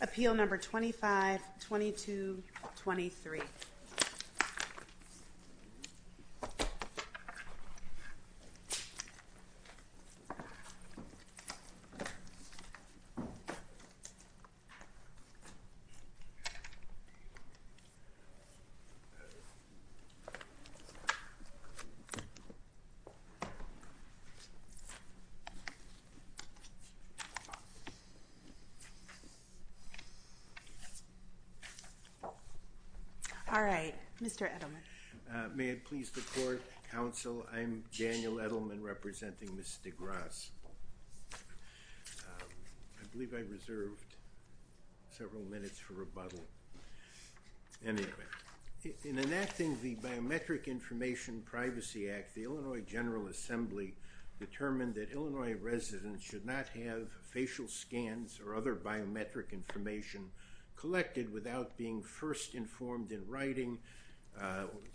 Appeal No. 25-22-23 All right, Mr. Edelman. May it please the court, counsel, I'm Daniel Edelman representing Ms. Degrasse. I believe I reserved several minutes for rebuttal. Anyway, in enacting the Biometric Information Privacy Act, the Illinois General Assembly determined that Illinois residents should not have facial scans or other biometric information collected without being first informed in writing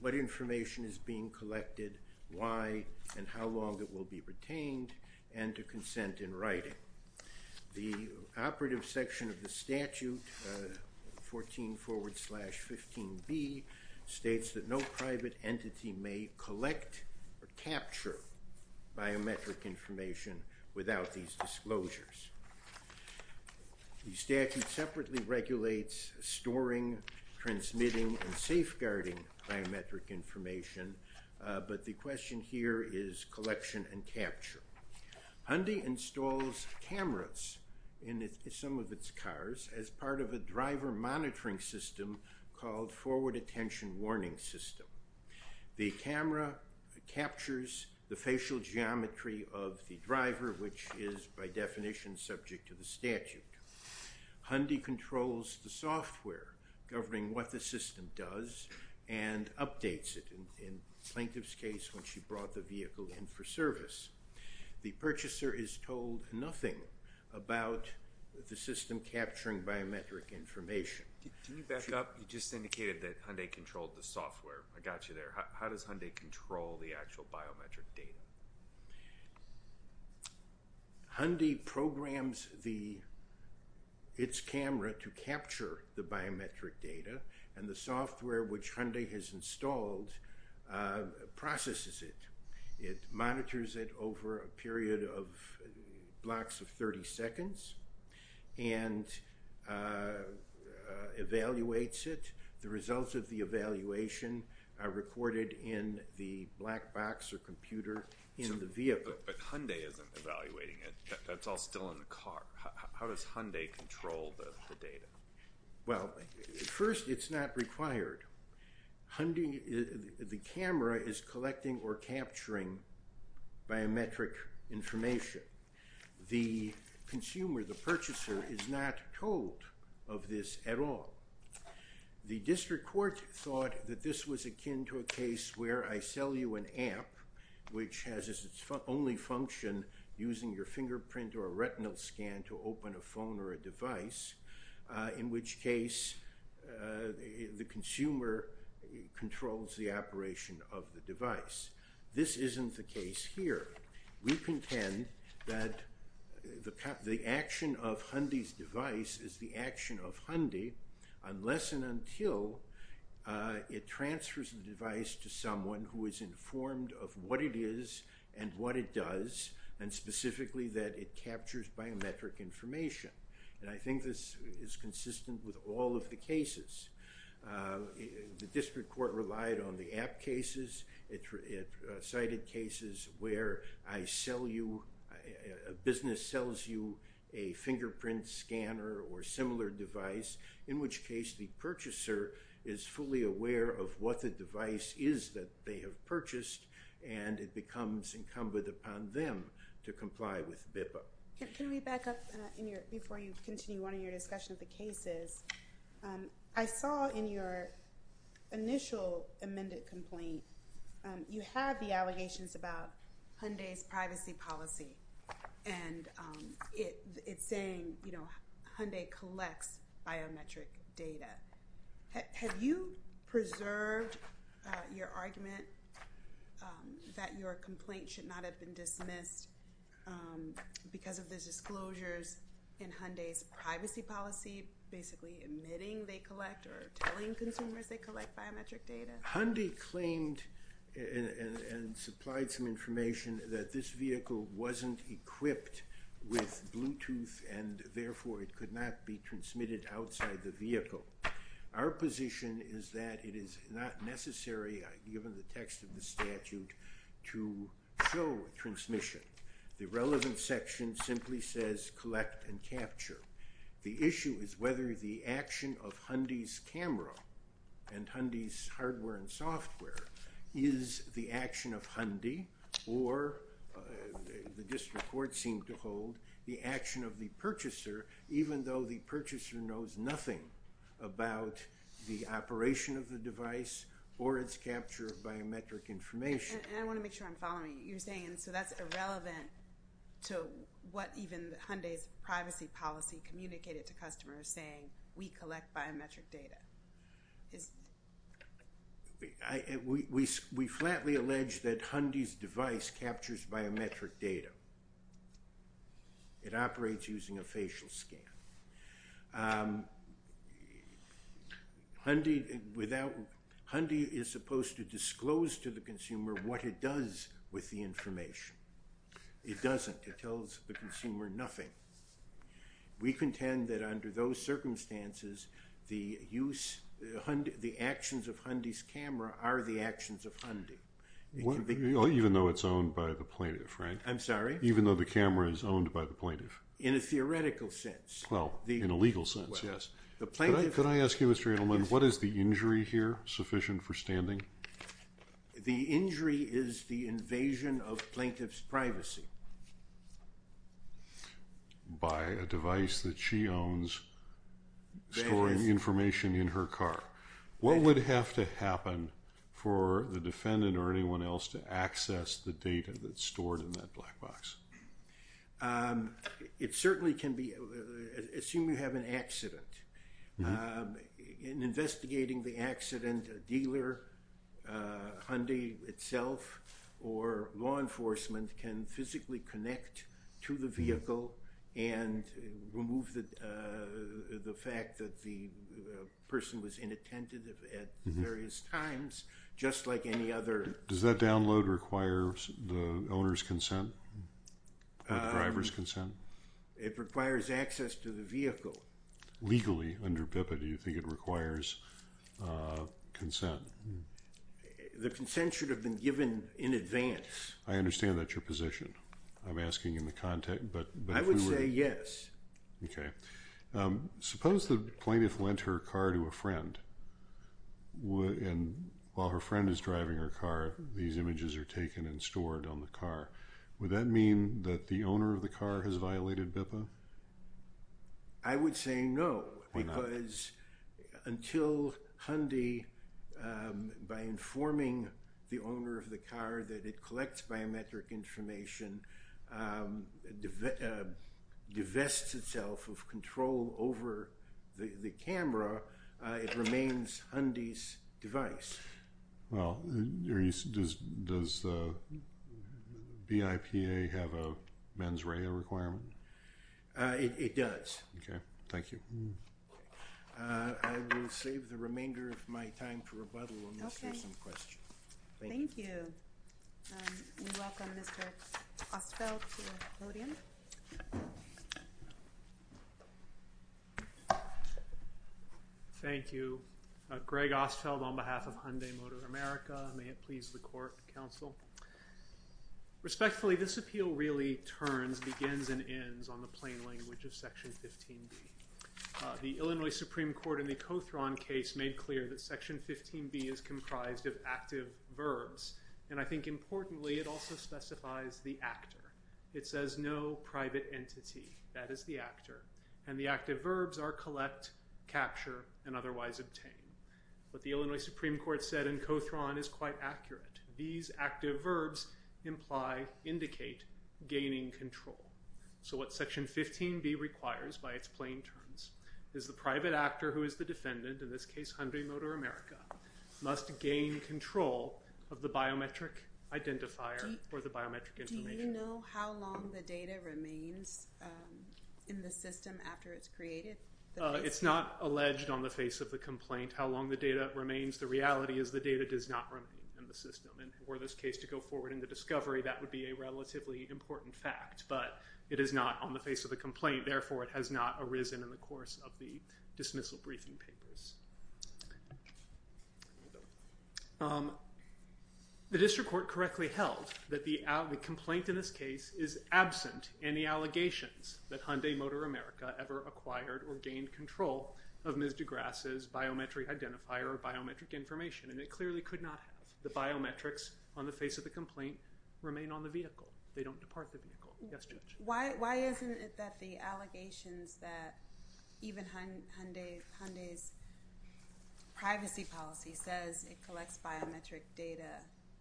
what information is being collected, why, and how long it will be retained and to consent in writing. The operative section of the statute 14 forward slash 15B states that no private entity may collect or capture biometric information without these disclosures. The statute separately regulates storing, transmitting, and safeguarding biometric information, but the question here is collection and capture. Hyundai installs cameras in some of its cars as part of a driver monitoring system called Forward Attention Warning System. The camera captures the facial geometry of the driver, which is by definition subject to the statute. Hyundai controls the software governing what the system does and updates it. In Plaintiff's case when she brought the vehicle in for service, the purchaser is told nothing about the system capturing biometric information. Can you back up? You just indicated that Hyundai controlled the software. I got you there. How does Hyundai control the actual biometric data? Hyundai programs its camera to capture the biometric data and the software which Hyundai has installed processes it. It monitors it over a period of blocks of 30 seconds and evaluates it. The results of the evaluation are recorded in the black box or computer in the vehicle. But Hyundai isn't evaluating it. That's all still in the car. How does Hyundai control the data? Well, first it's not required. The camera is collecting or capturing biometric information. The consumer, the purchaser, is not told of this at all. The district court thought that this was akin to a case where I sell you an app which has as its only function using your fingerprint or a retinal scan to open a phone or a device, in which case the consumer controls the operation of the device. This isn't the case here. We contend that the action of Hyundai's device is the action of Hyundai unless and until it transfers the device to someone who is informed of what it is and what it does, and specifically that it captures biometric information. And I think this is consistent with all of the cases. The district court relied on the app cases. It cited cases where I sell you, a business sells you a fingerprint scanner or similar device, in which case the purchaser is fully aware of what the device is that they have purchased, and it becomes incumbent upon them to comply with BIPA. Can we back up before you continue on in your discussion of the cases? I saw in your initial amended complaint, you have the allegations about Hyundai's privacy policy, and it's saying, you collect biometric data. Have you preserved your argument that your complaint should not have been dismissed because of the disclosures in Hyundai's privacy policy, basically admitting they collect or telling consumers they collect biometric data? Hyundai claimed and supplied some information that this vehicle wasn't equipped with Bluetooth and therefore it could not be transmitted outside the vehicle. Our position is that it is not necessary, given the text of the statute, to show transmission. The relevant section simply says collect and capture. The issue is whether the action of Hyundai's camera and Hyundai's hardware and software is the action of Hyundai or, the district court seemed to hold, the action of the purchaser, even though the purchaser knows nothing about the operation of the device or its capture of biometric information. I want to make sure I'm following you. You're saying so that's irrelevant to what even Hyundai's privacy policy communicated to customers saying we collect biometric data. We flatly allege that Hyundai's device captures biometric data. It operates using a facial scan. Hyundai is supposed to disclose to the consumer what it does with the information. It doesn't. It tells the consumer nothing. We contend that under those circumstances, the actions of Hyundai's camera are the actions of Hyundai. Even though it's owned by the plaintiff, right? I'm sorry? Even though the camera is owned by the plaintiff. In a theoretical sense. Well, in a legal sense, yes. Could I ask you, Mr. Edelman, what is the injury here sufficient for standing? The injury is the invasion of plaintiff's privacy. By a device that she owns storing information in her car. What would have to happen for the defendant or anyone else to access the data that's stored in that black box? It certainly can be, assume you have an accident. In investigating the accident, a dealer, Hyundai itself, or law enforcement, can physically connect to the vehicle and remove the fact that the person was inattentive at various times, just like any other. Does that download require the owner's consent? The driver's consent? It requires access to the vehicle. Legally, under BIPA, do you think it consent? The consent should have been given in advance. I understand that's your position. I'm asking in the context, but... I would say yes. Okay. Suppose the plaintiff lent her car to a friend, and while her friend is driving her car, these images are taken and stored on the car. Would that mean that the owner of the car has violated BIPA? I would say no, because until Hyundai, by informing the owner of the car that it collects biometric information, divests itself over the camera, it remains Hyundai's device. Well, does BIPA have a mens rea requirement? It does. Okay, thank you. I will save the remainder of my time for rebuttal unless there's some questions. Thank you. We welcome Mr. Ostfeld to the podium. Thank you. Greg Ostfeld on behalf of Hyundai Motor America. May it please the Court and Counsel. Respectfully, this appeal really turns, begins, and ends on the plain language of Section 15B. The Illinois Supreme Court in the Kothron case made clear that Section 15B is comprised of active verbs, and I think importantly, it also specifies the actor. It says no private entity. That is the actor. And the active verbs are collect, capture, and otherwise obtain. What the Illinois Supreme Court said in Kothron is quite accurate. These active verbs imply, indicate, gaining control. So what Section 15B requires by its plain terms is the private actor who is the defendant, in this case Hyundai Motor America, must gain control of the biometric identifier or the biometric information. Do you know how long the data remains in the system after it's created? It's not alleged on the face of the complaint how long the data remains. The reality is the data does not remain in the system. And for this case to go forward in the discovery, that would be a relatively important fact. But it is not on the face of the complaint, therefore it has not arisen in the course of the dismissal briefing papers. The district court correctly held that the complaint in this case is absent in the allegations that Hyundai Motor America ever acquired or gained control of Ms. DeGrasse's biometric identifier or biometric information, and it clearly could not have. The biometrics on the face of the complaint remain on the vehicle. They don't depart the vehicle. Yes, Judge. Why isn't it that the allegations that even Hyundai's privacy policy says it collects biometric data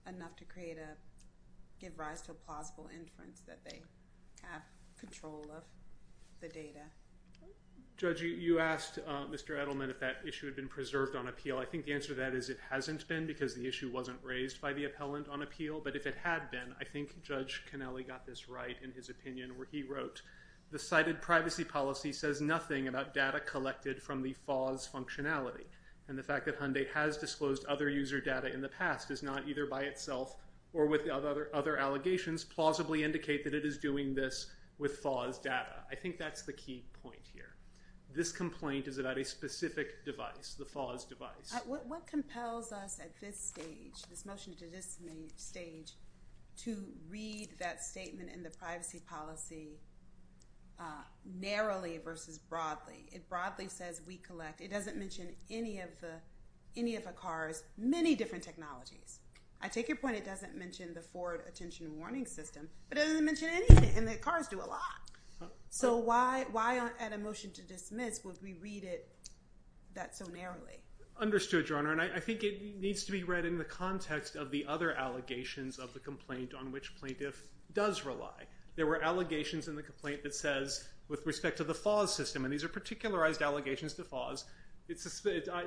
enough to give rise to a plausible inference that they have control of the data? Judge, you asked Mr. Edelman if that issue had been preserved on appeal. I think the answer to that is it hasn't been because the issue wasn't raised by the appellant on appeal. But if it had been, I think Judge Cannelli got this right in his opinion where he wrote, the cited privacy policy says nothing about data collected from the FAS functionality. And the fact that Hyundai has disclosed other user data in the past is not either by itself or with other allegations plausibly indicate that it is doing this with FAS data. I think that's the key point here. This complaint is about a specific device, the FAS device. What compels us at this stage, this motion to dismiss stage, to read that statement in the privacy policy narrowly versus broadly? It broadly says we collect. It doesn't mention any of the cars, many different technologies. I take your point it doesn't mention the Ford attention warning system, but it doesn't mention anything, and the cars do a lot. So why at a motion to dismiss would we read it that so narrowly? Understood, Your Honor. And I think it needs to be read in the context of the other allegations of the complaint on which plaintiff does rely. There were allegations in the complaint that says, with respect to the FAS system, and these are particularized allegations to FAS, it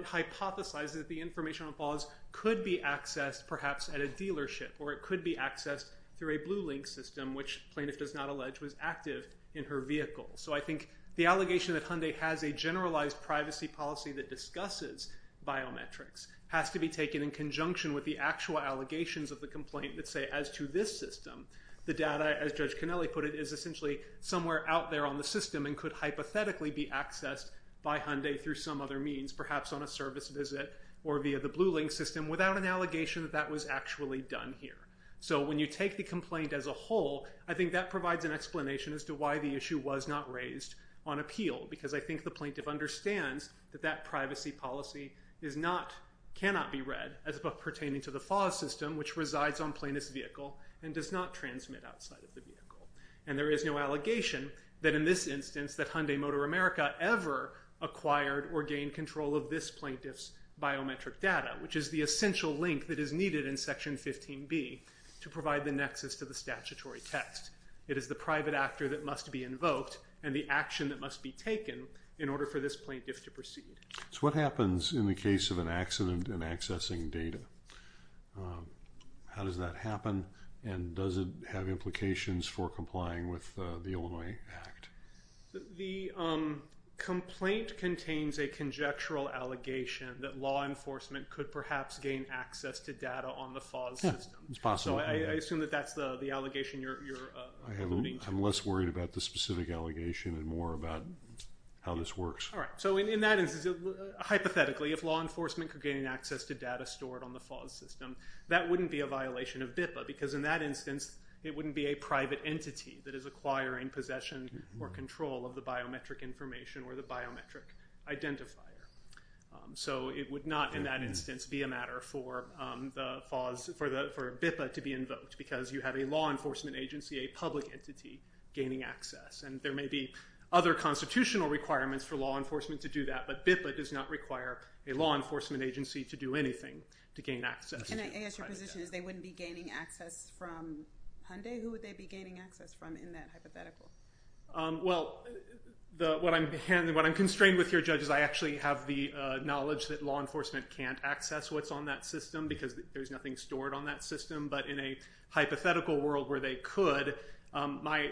hypothesizes that the information on FAS could be accessed perhaps at a dealership, or it could be accessed through a Blue Link system, which plaintiff does not allege was active in her vehicle. So I think the allegation that Hyundai has a generalized privacy policy that discusses biometrics has to be taken in conjunction with the actual allegations of the complaint that say, as to this system, the data, as Judge Cannelli put it, is essentially somewhere out there on the system and could hypothetically be accessed by Hyundai through some other means, perhaps on a service visit or via the Blue Link system without an allegation that that was actually done here. So when you take the complaint as a whole, I think that provides an explanation as to why the issue was not raised on appeal, because I think the plaintiff understands that that privacy policy is not, cannot be read as pertaining to the FAS system, which resides on plaintiff's vehicle and does not transmit outside of the vehicle. And there is no allegation that in this instance that Hyundai Motor America ever acquired or gained control of this plaintiff's biometric data, which is the essential link that is needed in Section 15b to provide the nexus to the statutory text. It is the private actor that must be invoked and the action that must be taken in order for this plaintiff to proceed. So what happens in the case of an accident in accessing data? How does that happen and does it have implications for complying with the Illinois Act? The complaint contains a conjectural allegation that law enforcement could perhaps gain access to data on the FAS system. Yeah, it's possible. So I assume that that's the allegation you're alluding to. I'm less worried about the specific allegation and more about how this works. All right. So in that instance, hypothetically, if law enforcement could gain access to data stored on the FAS system, that wouldn't be a violation of BIPA, because in that instance it wouldn't be a private entity that is acquiring possession or control of the biometric information or the biometric identifier. So it would not, in that instance, be a matter for BIPA to be invoked, because you have a law enforcement agency, a public entity, gaining access. And there may be other constitutional requirements for law enforcement to do that, but BIPA does not require a law enforcement agency to do anything to gain access to private data. My position is they wouldn't be gaining access from Hyundai? Who would they be gaining access from in that hypothetical? Well, what I'm constrained with here, judges, I actually have the knowledge that law enforcement can't access what's on that system, because there's nothing stored on that system. But in a hypothetical world where they could, my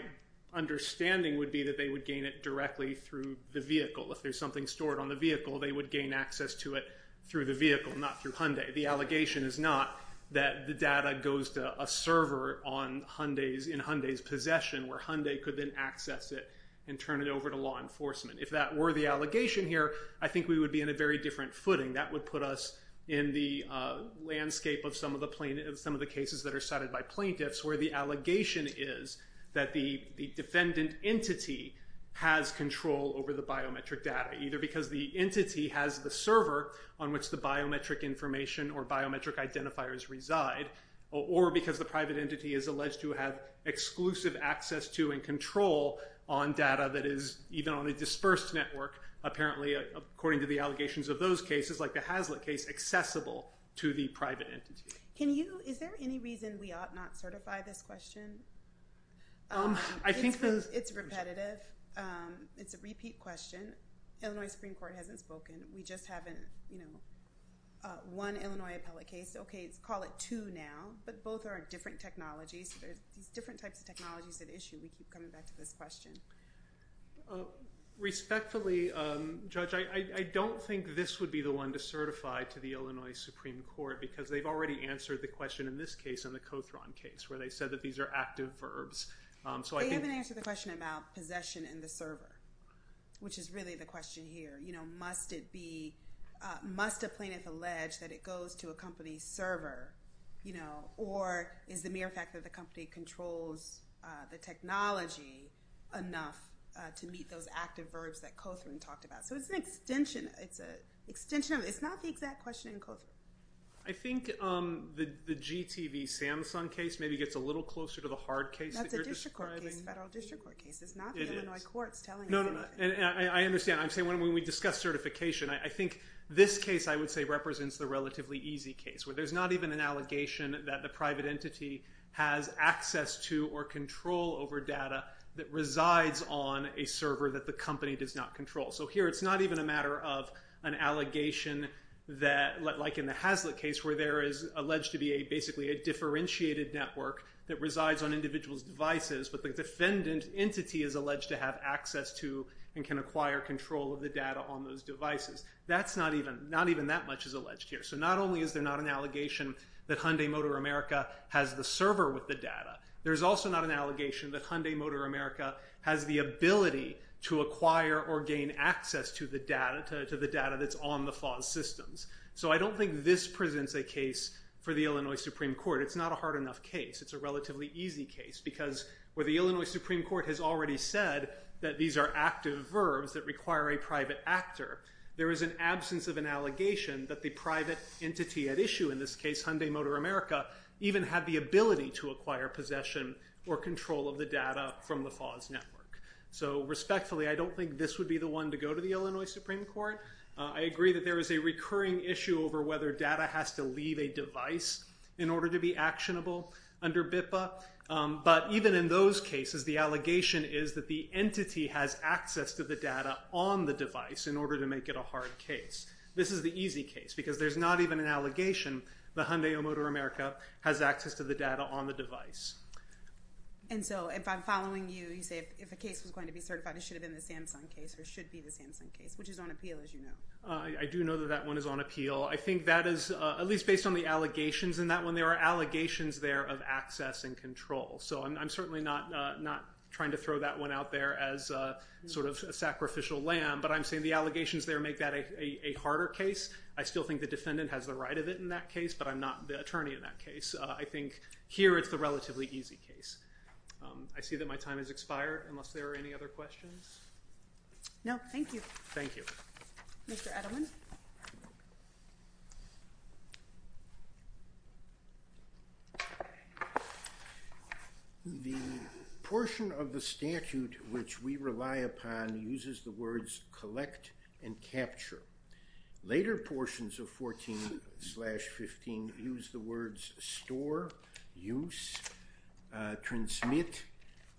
understanding would be that they would gain it directly through the vehicle. If there's something stored on the vehicle, they would gain access to it through the vehicle, not through Hyundai. The allegation is not that the data goes to a server in Hyundai's possession, where Hyundai could then access it and turn it over to law enforcement. If that were the allegation here, I think we would be in a very different footing. That would put us in the landscape of some of the cases that are cited by plaintiffs, where the allegation is that the defendant entity has control over the biometric data, either because the entity has the server on which the biometric information or biometric identifiers reside, or because the private entity is alleged to have exclusive access to and control on data that is even on a dispersed network, apparently, according to the allegations of those cases, like the Hazlitt case, accessible to the private entity. Can you, is there any reason we ought not certify this question? I think the- It's repetitive. It's a repeat question. Illinois Supreme Court hasn't spoken. We just haven't you know, one Illinois appellate case. Okay, let's call it two now, but both are different technologies. There's different types of technologies at issue. We keep coming back to this question. Respectfully, Judge, I don't think this would be the one to certify to the Illinois Supreme Court, because they've already answered the question in this case, in the Cothron case, where they said that these are active verbs. So I think- They haven't answered the question about possession in the server, which is really the question here. You know, must it be, must a plaintiff allege that it goes to a company's server, you know, or is the mere fact that the company controls the technology enough to meet those active verbs that Cothron talked about? So it's an extension, it's a extension of, it's not the exact question in Cothron. I think the GTV Samsung case maybe gets a little closer to the hard case that you're describing. That's a district court case, a federal district court case. It's not the Illinois courts telling us anything. I understand. I'm saying when we discuss certification, I think this case, I would say, represents the relatively easy case, where there's not even an allegation that the private entity has access to or control over data that resides on a server that the company does not control. So here it's not even a matter of an allegation that, like in the Hazlitt case, where there is alleged to be basically a differentiated network that resides on individuals' devices, but the defendant entity is alleged to have access to and can acquire control of the data on those devices. That's not even, not even that much is alleged here. So not only is there not an allegation that Hyundai Motor America has the server with the data, there's also not an allegation that Hyundai Motor America has the ability to acquire or gain access to the data, to the data that's on the FAS systems. So I don't think this presents a case for the Illinois Supreme Court. It's not a hard enough case. It's a relatively easy case, because where the Illinois Supreme Court has already said that these are active verbs that require a private actor, there is an absence of an allegation that the private entity at issue, in this case Hyundai Motor America, even had the ability to acquire possession or control of the data from the FAS network. So respectfully, I don't think this would be the one to go to the Illinois Supreme Court. I agree that there is a recurring issue over whether data has to leave a device in order to be actionable under BIPA. But even in those cases, the allegation is that the entity has access to the data on the device in order to make it a hard case. This is the easy case, because there's not even an allegation that Hyundai Motor America has access to the data on the device. And so if I'm following you, you say if a case was going to be certified, it should have been the Samsung case or should be the Samsung case, which is on appeal, as you know. I do know that that one is on appeal. I think that is, at least based on the allegations in that one, there are allegations there of access and control. So I'm certainly not trying to throw that one out there as sort of a sacrificial lamb, but I'm saying the allegations there make that a harder case. I still think the defendant has the right of it in that case, but I'm not the attorney in that case. I think here it's the relatively easy case. I see that my time has expired, unless there are any other questions. No, thank you. Thank you. Mr. Edelman? The portion of the statute which we rely upon uses the words collect and capture. Later portions of 14-15 use the words store, use, transmit,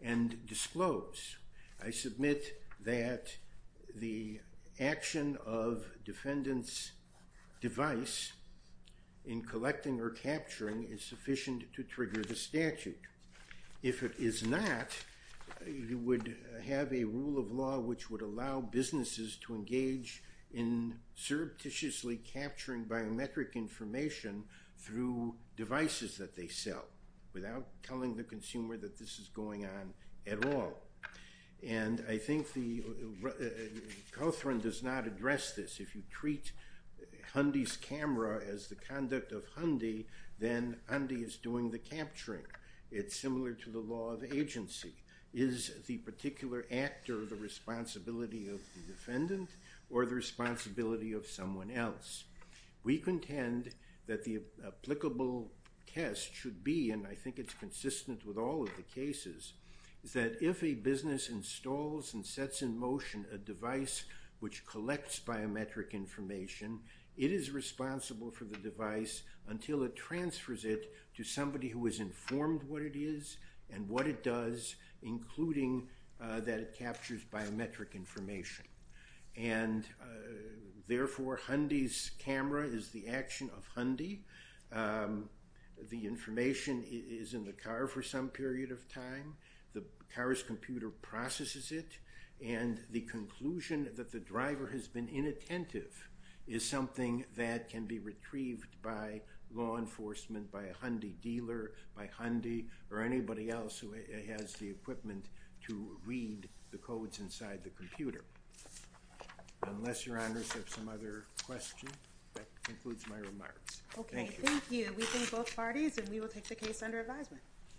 and disclose. I submit that the action of defendant's device in collecting or capturing is sufficient to trigger the statute. If it is not, you would have a rule of law which would allow businesses to engage in surreptitiously capturing biometric information through devices that they sell, without telling the consumer that this is going on at all. And I think Cawthron does not address this. If you treat Hundy's camera as the conduct of Hundy, then Hundy is doing the capturing. It's similar to the law of agency. Is the particular actor the responsibility of the defendant or the responsibility of someone else? We contend that the applicable test should be, and I think it's consistent with all of the cases, is that if a business installs and sets in motion a device which collects biometric information, it is responsible for the device until it transfers it to somebody who is informed what it is and what it does, including that it captures biometric information. And therefore, Hundy's camera is the action of Hundy. The information is in the car for some period of time. The car's computer processes it and the conclusion that the driver has been inattentive is something that can be retrieved by law enforcement, by a Hundy dealer, by Hundy, or anybody else who has the equipment to read the codes inside the computer. Unless your honors have some other questions, that concludes my remarks. Okay, thank you. We thank both parties and we will take the case under advisement.